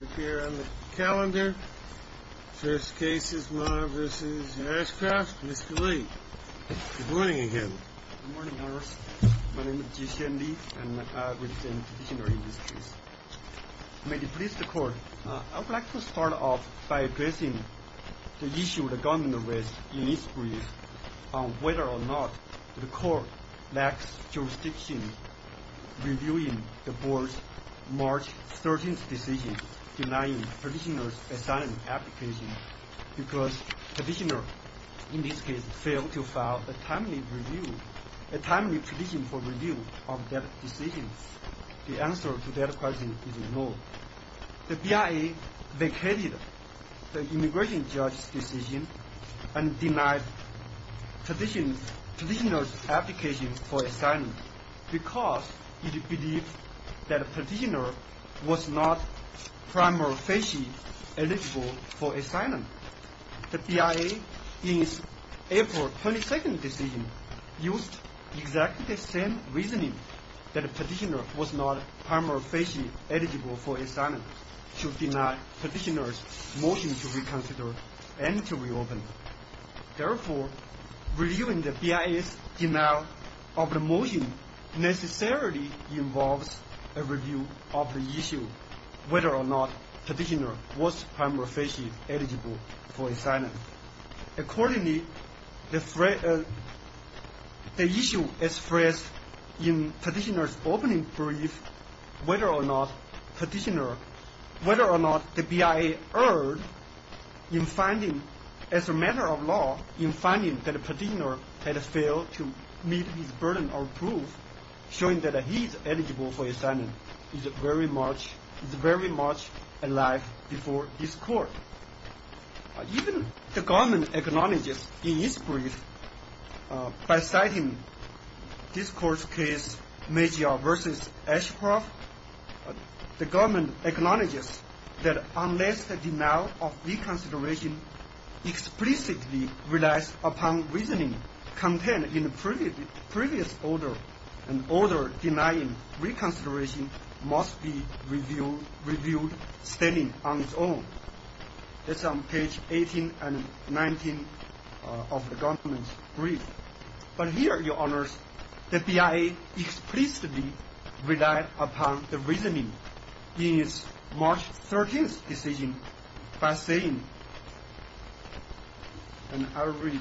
Good morning, Your Honor. My name is Ji-Hsien Lee, and I represent the Dictionary Industries. May it please the Court, I would like to start off by addressing the issue of the government arrest in East Breeze on whether or not the Court lacks jurisdiction reviewing the Board's March 13th decision denying petitioner's asylum application because petitioner, in this case, failed to file a timely petition for review of that decision. The answer to that question is no. The BIA vacated the immigration judge's decision and denied petitioner's application for asylum because it believed that petitioner was not primarily eligible for asylum. The BIA, in its April 22nd decision, used exactly the same reasoning that petitioner was not primarily eligible for asylum to deny petitioner's motion to reconsider and to reopen. Therefore, reviewing the BIA's denial of the motion necessarily involves a review of the issue whether or not petitioner was primarily eligible for asylum. Accordingly, the issue expressed in petitioner's opening brief, whether or not the BIA erred in finding, as a matter of law, in finding that petitioner had failed to meet his burden of proof, showing that he's eligible for asylum, is very much alive before this Court. Even the Government acknowledges in its brief, by citing this Court's case, Magyar v. Ashcroft, the Government acknowledges that unless the denial of reconsideration explicitly relies upon reasoning contained in the previous order, an order denying reconsideration must be reviewed standing on its own. That's on page 18 and 19 of the Government's brief. But here, Your Honours, the BIA explicitly relied upon the reasoning in its March 13th decision by saying, and I'll read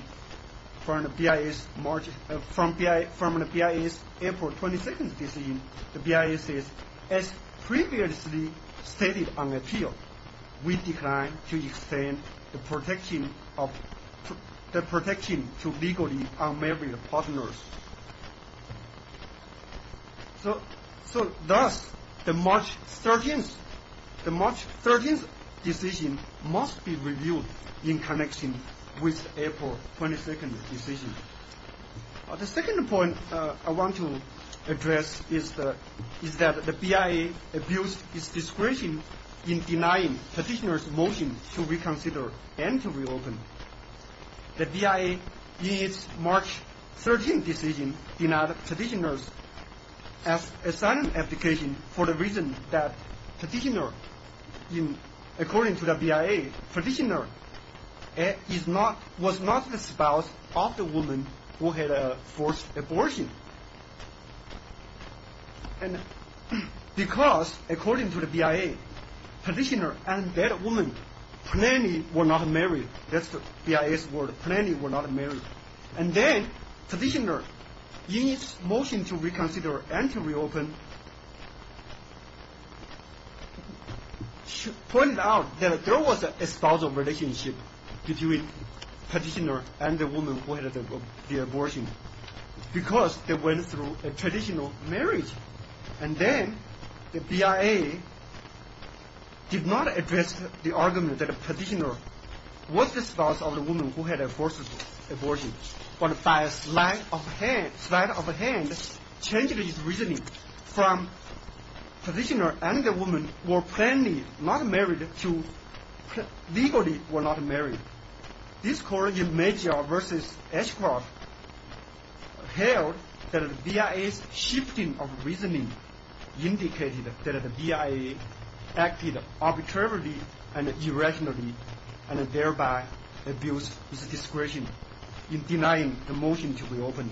from the BIA's April 22nd decision, the BIA says, as previously stated on appeal, we declined to extend the protection to legally unmarried partners. So thus, the March 13th decision must be reviewed in connection with April 22nd decision. The second point I want to address is that the BIA abused its discretion in denying petitioner's motion to reconsider and to reopen. The BIA, in its March 13th decision, denied petitioner's asylum application for the reason that petitioner, according to the BIA, petitioner was not the spouse of the woman who had forced abortion. And because, according to the BIA, petitioner and that woman plainly were not married. That's the BIA's word, plainly were not married. And then petitioner, in its motion to reconsider and to reopen, pointed out that there was a spousal relationship between petitioner and the woman who had the abortion. Because they went through a traditional marriage. And then the BIA did not address the argument that petitioner was the spouse of the woman who had forced abortion. But by a slight of hand, changed its reasoning from petitioner and the woman were plainly not married to legally were not married. This court in Major v. Ashcroft held that the BIA's shifting of reasoning indicated that the BIA acted arbitrarily and irrationally, and thereby abused its discretion in denying the motion to reopen.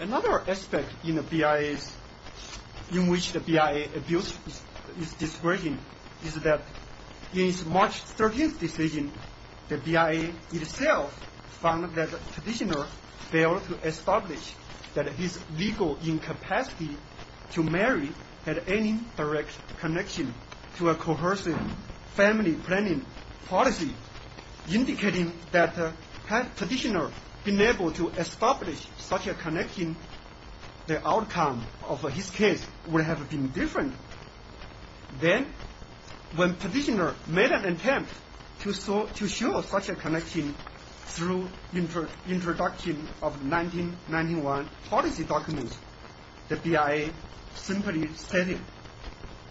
Another aspect in which the BIA abused its discretion is that in its March 13th decision, the BIA itself found that petitioner failed to establish that his legal incapacity to marry had any direct connection to a coercive family planning policy, indicating that had petitioner been able to establish such a connection, the outcome of his case would have been different. Then, when petitioner made an attempt to show such a connection through introduction of 1991 policy documents, the BIA simply stated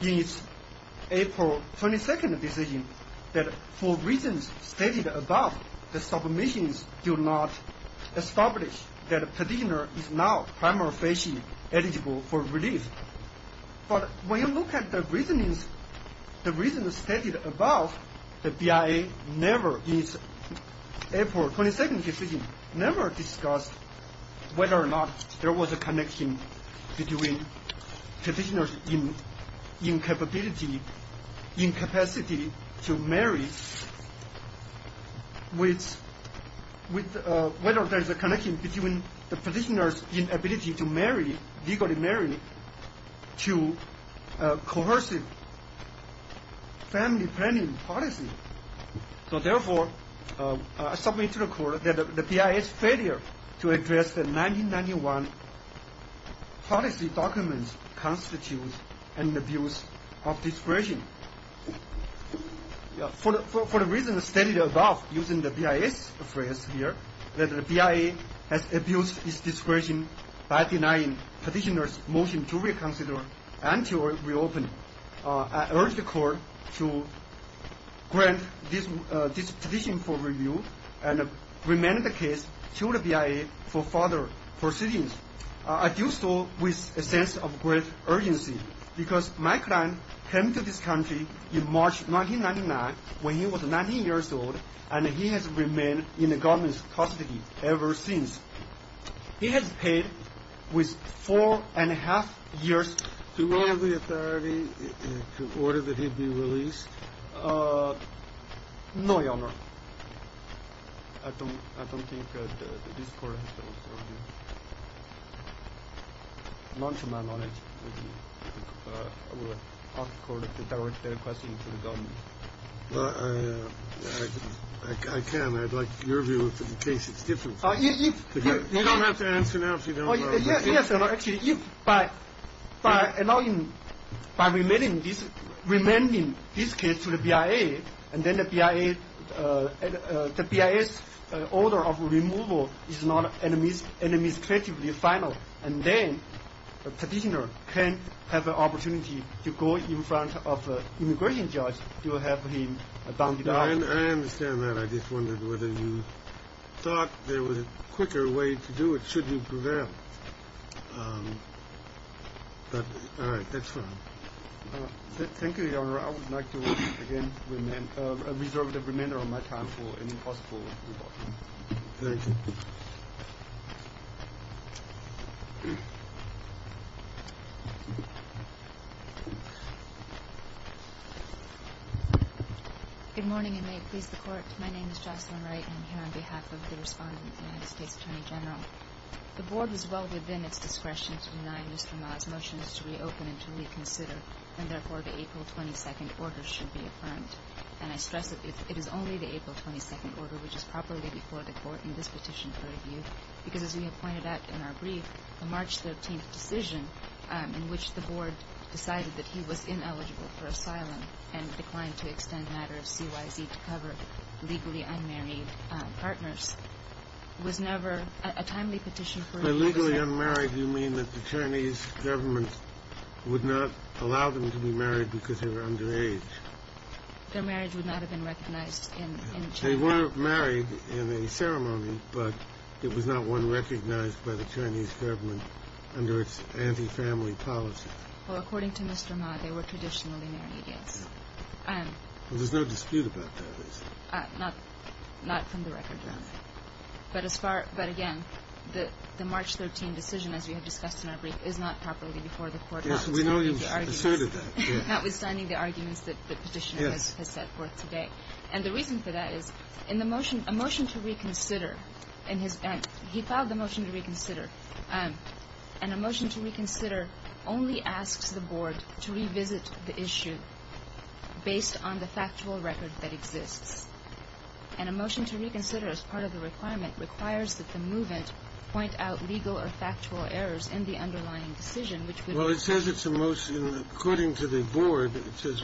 in its April 22nd decision that for reasons stated above, the submissions do not establish that petitioner is now prima facie eligible for relief. But when you look at the reasons stated above, the BIA in its April 22nd decision never discussed whether or not there was a connection between petitioner's incapacity to marry, legally marry, to a coercive family planning policy. So therefore, I submit to the court that the BIA's failure to address the 1991 policy documents constitutes an abuse of discretion. For the reasons stated above, using the BIA's phrase here, that the BIA has abused its discretion by denying petitioner's motion to reconsider and to reopen, I urge the court to grant this petition for review and remand the case to the BIA for further proceedings. I do so with a sense of great urgency because my client came to this country in March 1999 when he was 19 years old and he has remained in the government's custody ever since. He has paid with four and a half years to all the authority in order that he be released. No, Your Honor. I don't think this court has the authority. Not to my knowledge. I will ask the court to direct the request to the government. I can. I'd like your view of the case. It's different. You don't have to answer now if you don't know. Yes, Your Honor. Actually, by remanding this case to the BIA and then the BIA's order of removal is not administratively final, and then the petitioner can have the opportunity to go in front of an immigration judge to have him bounded out. I understand that. I just wondered whether you thought there was a quicker way to do it. Should you prevent that? All right. That's fine. Thank you, Your Honor. I would like to again reserve the remainder of my time for any possible. Thank you. Good morning, and may it please the court. My name is Jocelyn Wright. I'm here on behalf of the respondent, the United States Attorney General. The board is well within its discretion to deny Mr. Ma's motions to reopen and to reconsider, and therefore the April 22nd order should be affirmed. And I stress that it is only the April 22nd order which is properly before the court in this petition for review, because as we have pointed out in our brief, the March 13th decision in which the board decided that he was ineligible for asylum and declined to extend a matter of CYZ to cover legally unmarried partners was never a timely petition. By legally unmarried, you mean that the Chinese government would not allow them to be married because they were underage. Their marriage would not have been recognized in China. They were married in a ceremony, but it was not one recognized by the Chinese government under its anti-family policy. Well, according to Mr. Ma, they were traditionally married, yes. There's no dispute about that, is there? Not from the record, no. But again, the March 13th decision, as we have discussed in our brief, is not properly before the court. Yes, we know you've asserted that. Notwithstanding the arguments that the petitioner has set forth today. And the reason for that is a motion to reconsider, and he filed the motion to reconsider, and a motion to reconsider only asks the board to revisit the issue based on the factual record that exists. And a motion to reconsider, as part of the requirement, requires that the movement point out legal or factual errors in the underlying decision, which would require the board to reconsider. Well, it says it's a motion. According to the board, it says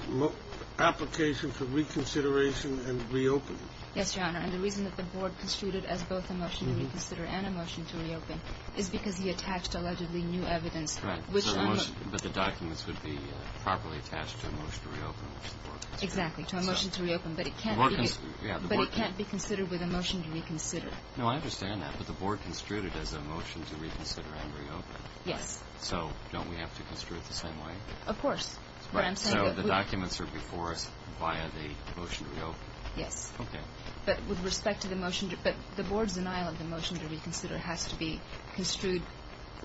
application for reconsideration and reopening. Yes, Your Honor. And the reason that the board construed it as both a motion to reconsider and a motion to reopen is because he attached allegedly new evidence. Correct. But the documents would be properly attached to a motion to reopen. Exactly, to a motion to reopen. But it can't be considered with a motion to reconsider. No, I understand that. But the board construed it as a motion to reconsider and reopen. Yes. So don't we have to construe it the same way? Of course. So the documents are before us via the motion to reopen? Yes. Okay. But with respect to the motion to – but the board's denial of the motion to reconsider has to be construed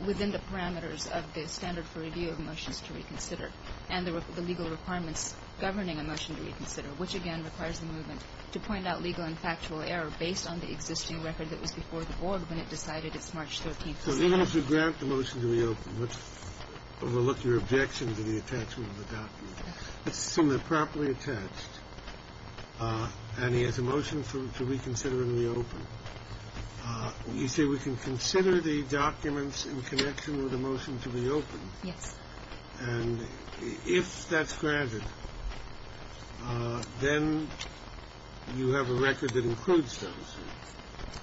within the parameters of the standard for review of motions to reconsider and the legal requirements governing a motion to reconsider, which, again, requires the movement to point out legal and factual error based on the existing record that was before the board when it decided it's March 13th. So even if you grant the motion to reopen, let's overlook your objection to the attachment of the document. Let's assume they're properly attached and he has a motion to reconsider and reopen. You say we can consider the documents in connection with a motion to reopen. Yes. And if that's granted, then you have a record that includes those.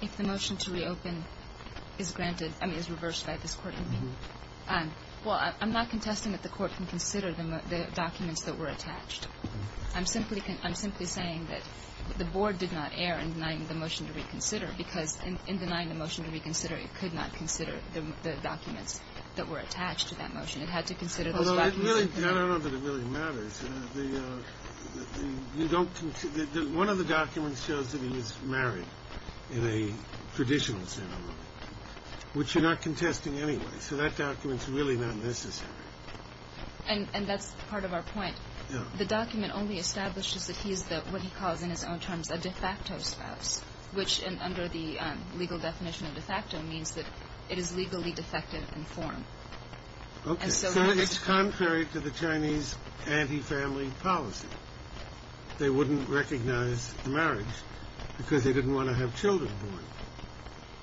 If the motion to reopen is granted – I mean, is reversed by this Court. Well, I'm not contesting that the Court can consider the documents that were attached. I'm simply saying that the board did not err in denying the motion to reconsider because in denying the motion to reconsider, it could not consider the documents that were attached to that motion. It had to consider those documents. Although it really – I don't know that it really matters. The – you don't – one of the documents shows that he was married in a traditional ceremony, which you're not contesting anyway. So that document's really not necessary. And that's part of our point. The document only establishes that he is what he calls in his own terms a de facto spouse, which under the legal definition of de facto means that it is legally defective in form. Okay. So it's contrary to the Chinese anti-family policy. They wouldn't recognize marriage because they didn't want to have children born.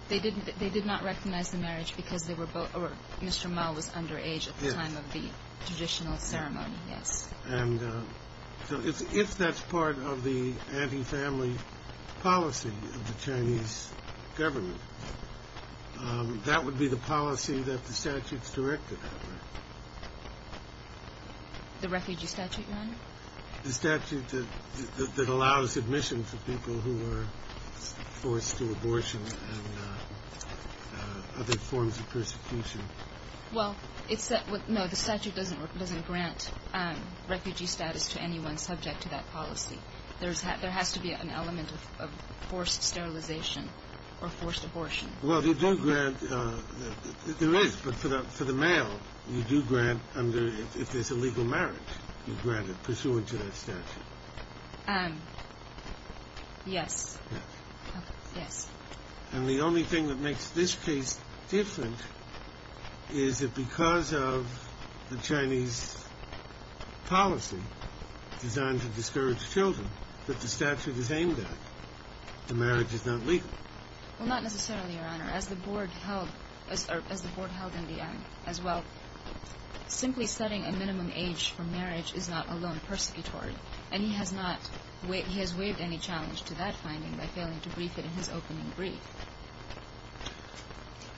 They didn't – they did not recognize the marriage because they were – Mr. Mao was underage at the time of the traditional ceremony, yes. And so if that's part of the anti-family policy of the Chinese government, that would be the policy that the statute's directed on. The refugee statute, Your Honor? The statute that allows admission for people who are forced to abortion and other forms of persecution. Well, it's – no, the statute doesn't grant refugee status to anyone subject to that policy. There has to be an element of forced sterilization or forced abortion. Well, they do grant – there is. But for the male, you do grant under – if there's a legal marriage, you grant it pursuant to that statute. Yes. Yes. Yes. And the only thing that makes this case different is that because of the Chinese policy designed to discourage children that the statute is aimed at, the marriage is not legal. Well, not necessarily, Your Honor. As the Board held – or as the Board held in the end as well, simply setting a minimum age for marriage is not alone persecutory. And he has not – he has waived any challenge to that finding by failing to brief it in his opening brief.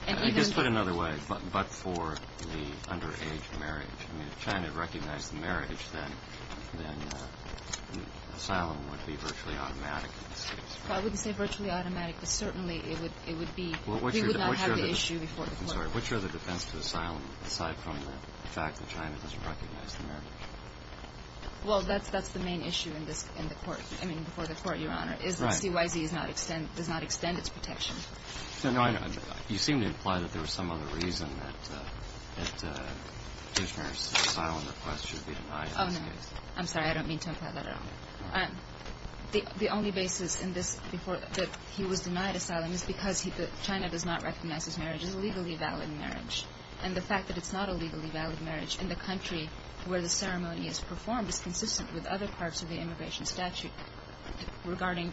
And even – I guess put another way, but for the underage marriage, I mean, if China recognized the marriage, then asylum would be virtually automatic. Well, I wouldn't say virtually automatic, but certainly it would be – we would not have the issue before the court. I'm sorry. Which are the defense to asylum aside from the fact that China doesn't recognize the marriage? Well, that's the main issue in this – in the court – I mean, before the court, Your Honor, is that CYZ does not extend its protection. No, no, I know. You seem to imply that there was some other reason that the petitioner's asylum request should be denied in this case. Oh, no. I'm sorry. I don't mean to imply that at all. The only basis in this before – that he was denied asylum is because he – that China does not recognize his marriage as a legally valid marriage. And the fact that it's not a legally valid marriage in the country where the ceremony is performed is consistent with other parts of the immigration statute regarding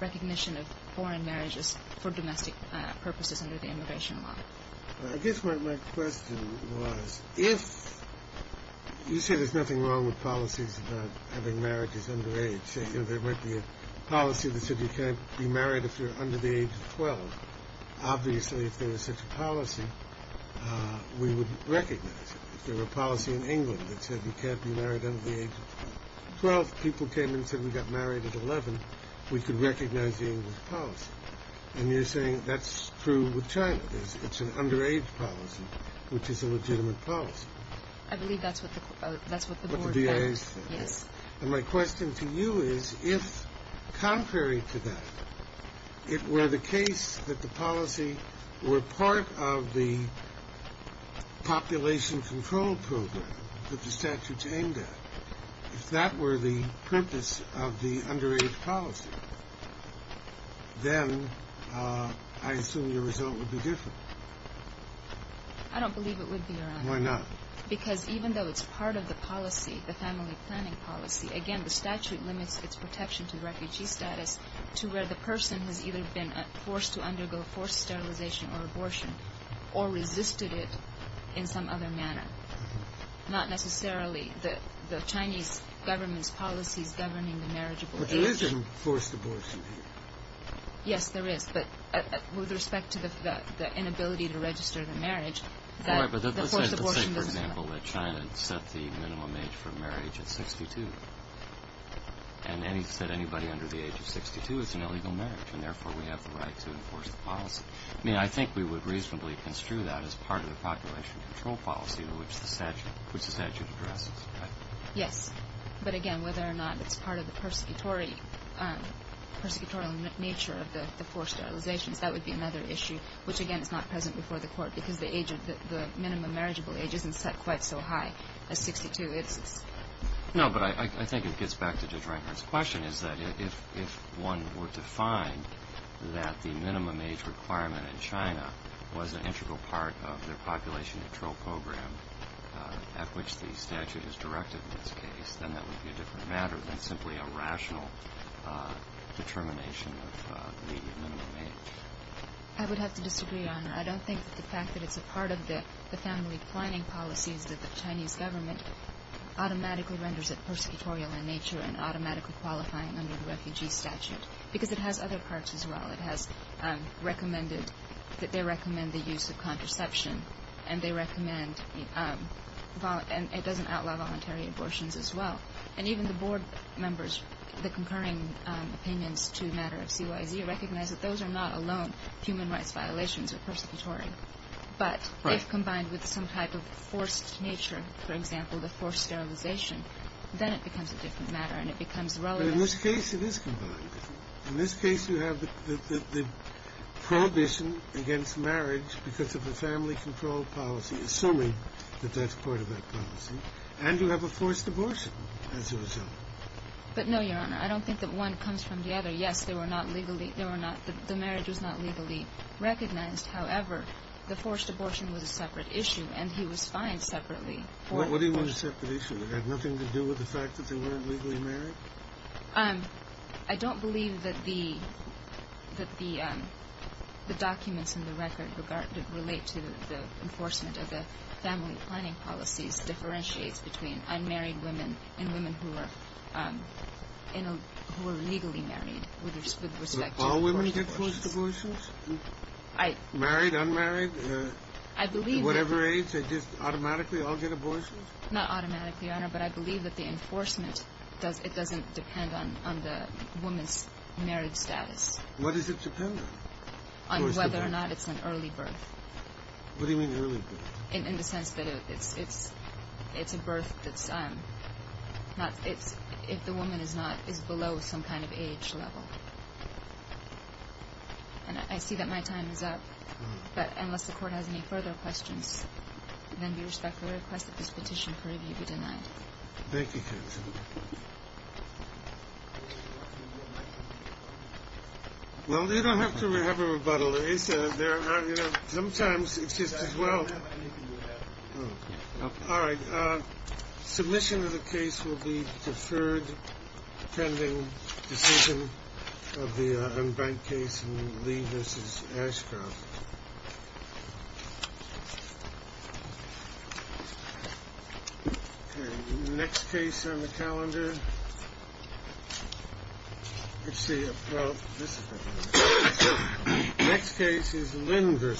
recognition of foreign marriages for domestic purposes under the immigration law. I guess my question was if – you say there's nothing wrong with policies about having marriages under age. You know, there might be a policy that said you can't be married if you're under the age of 12. Obviously, if there was such a policy, we would recognize it. If there were a policy in England that said you can't be married under the age of 12, people came and said we got married at 11, we could recognize the English policy. And you're saying that's true with China. It's an underage policy, which is a legitimate policy. I believe that's what the board – What the BIA is saying. Yes. And my question to you is if, contrary to that, if it were the case that the policy were part of the population control program that the statute aimed at, if that were the purpose of the underage policy, then I assume your result would be different. I don't believe it would be, Your Honor. Why not? Because even though it's part of the policy, the family planning policy, again, the statute limits its protection to refugee status to where the person has either been forced to undergo forced sterilization or abortion or resisted it in some other manner. Not necessarily. The Chinese government's policy is governing the marriageable age. But there is a forced abortion here. Yes, there is. But with respect to the inability to register the marriage, the forced abortion does not. Let's say, for example, that China set the minimum age for marriage at 62. And any – said anybody under the age of 62 is in illegal marriage, and therefore we have the right to enforce the policy. I mean, I think we would reasonably construe that as part of the population control policy which the statute addresses, right? Yes. But, again, whether or not it's part of the persecutory – persecutorial nature of the forced sterilizations, that would be another issue, which, again, is not present before the Court because the age of the minimum marriageable age isn't set quite so high as 62. No, but I think it gets back to Judge Reinhart's question, is that if one were to find that the minimum age requirement in China was an integral part of the population control program at which the statute is directed in this case, then that would be a different matter than simply a rational determination of the minimum age. I would have to disagree, Your Honor. I don't think that the fact that it's a part of the family declining policy is that the Chinese government automatically renders it persecutorial in nature and automatically qualifying under the refugee statute because it has other parts as well. It has recommended that they recommend the use of contraception, and it doesn't outlaw voluntary abortions as well. And even the board members, the concurring opinions to the matter of CYZ, recognize that those are not alone human rights violations or persecutory, but if combined with some type of forced nature, for example, the forced sterilization, then it becomes a different matter and it becomes relevant. But in this case, it is combined. In this case, you have the prohibition against marriage because of the family control policy, assuming that that's part of that policy, and you have a forced abortion as a result. But no, Your Honor. I don't think that one comes from the other. Yes, the marriage was not legally recognized. However, the forced abortion was a separate issue, and he was fined separately. What do you mean a separate issue? It had nothing to do with the fact that they weren't legally married? I don't believe that the documents in the record relate to the enforcement of the family declining policies between unmarried women and women who are legally married with respect to forced abortions. So all women get forced abortions? Married, unmarried, whatever age? They just automatically all get abortions? Not automatically, Your Honor, but I believe that the enforcement doesn't depend on the woman's marriage status. What does it depend on? On whether or not it's an early birth. What do you mean early birth? In the sense that it's a birth that's not – if the woman is not – is below some kind of age level. And I see that my time is up, but unless the Court has any further questions, then we respectfully request that this petition for review be denied. Thank you, counsel. Well, they don't have to have a rebuttal. Sometimes it's just as well – All right. Submission of the case will be deferred pending decision of the unbanked case in Lee v. Ashcroft. Next case on the calendar. Let's see. Next case is Lynn v.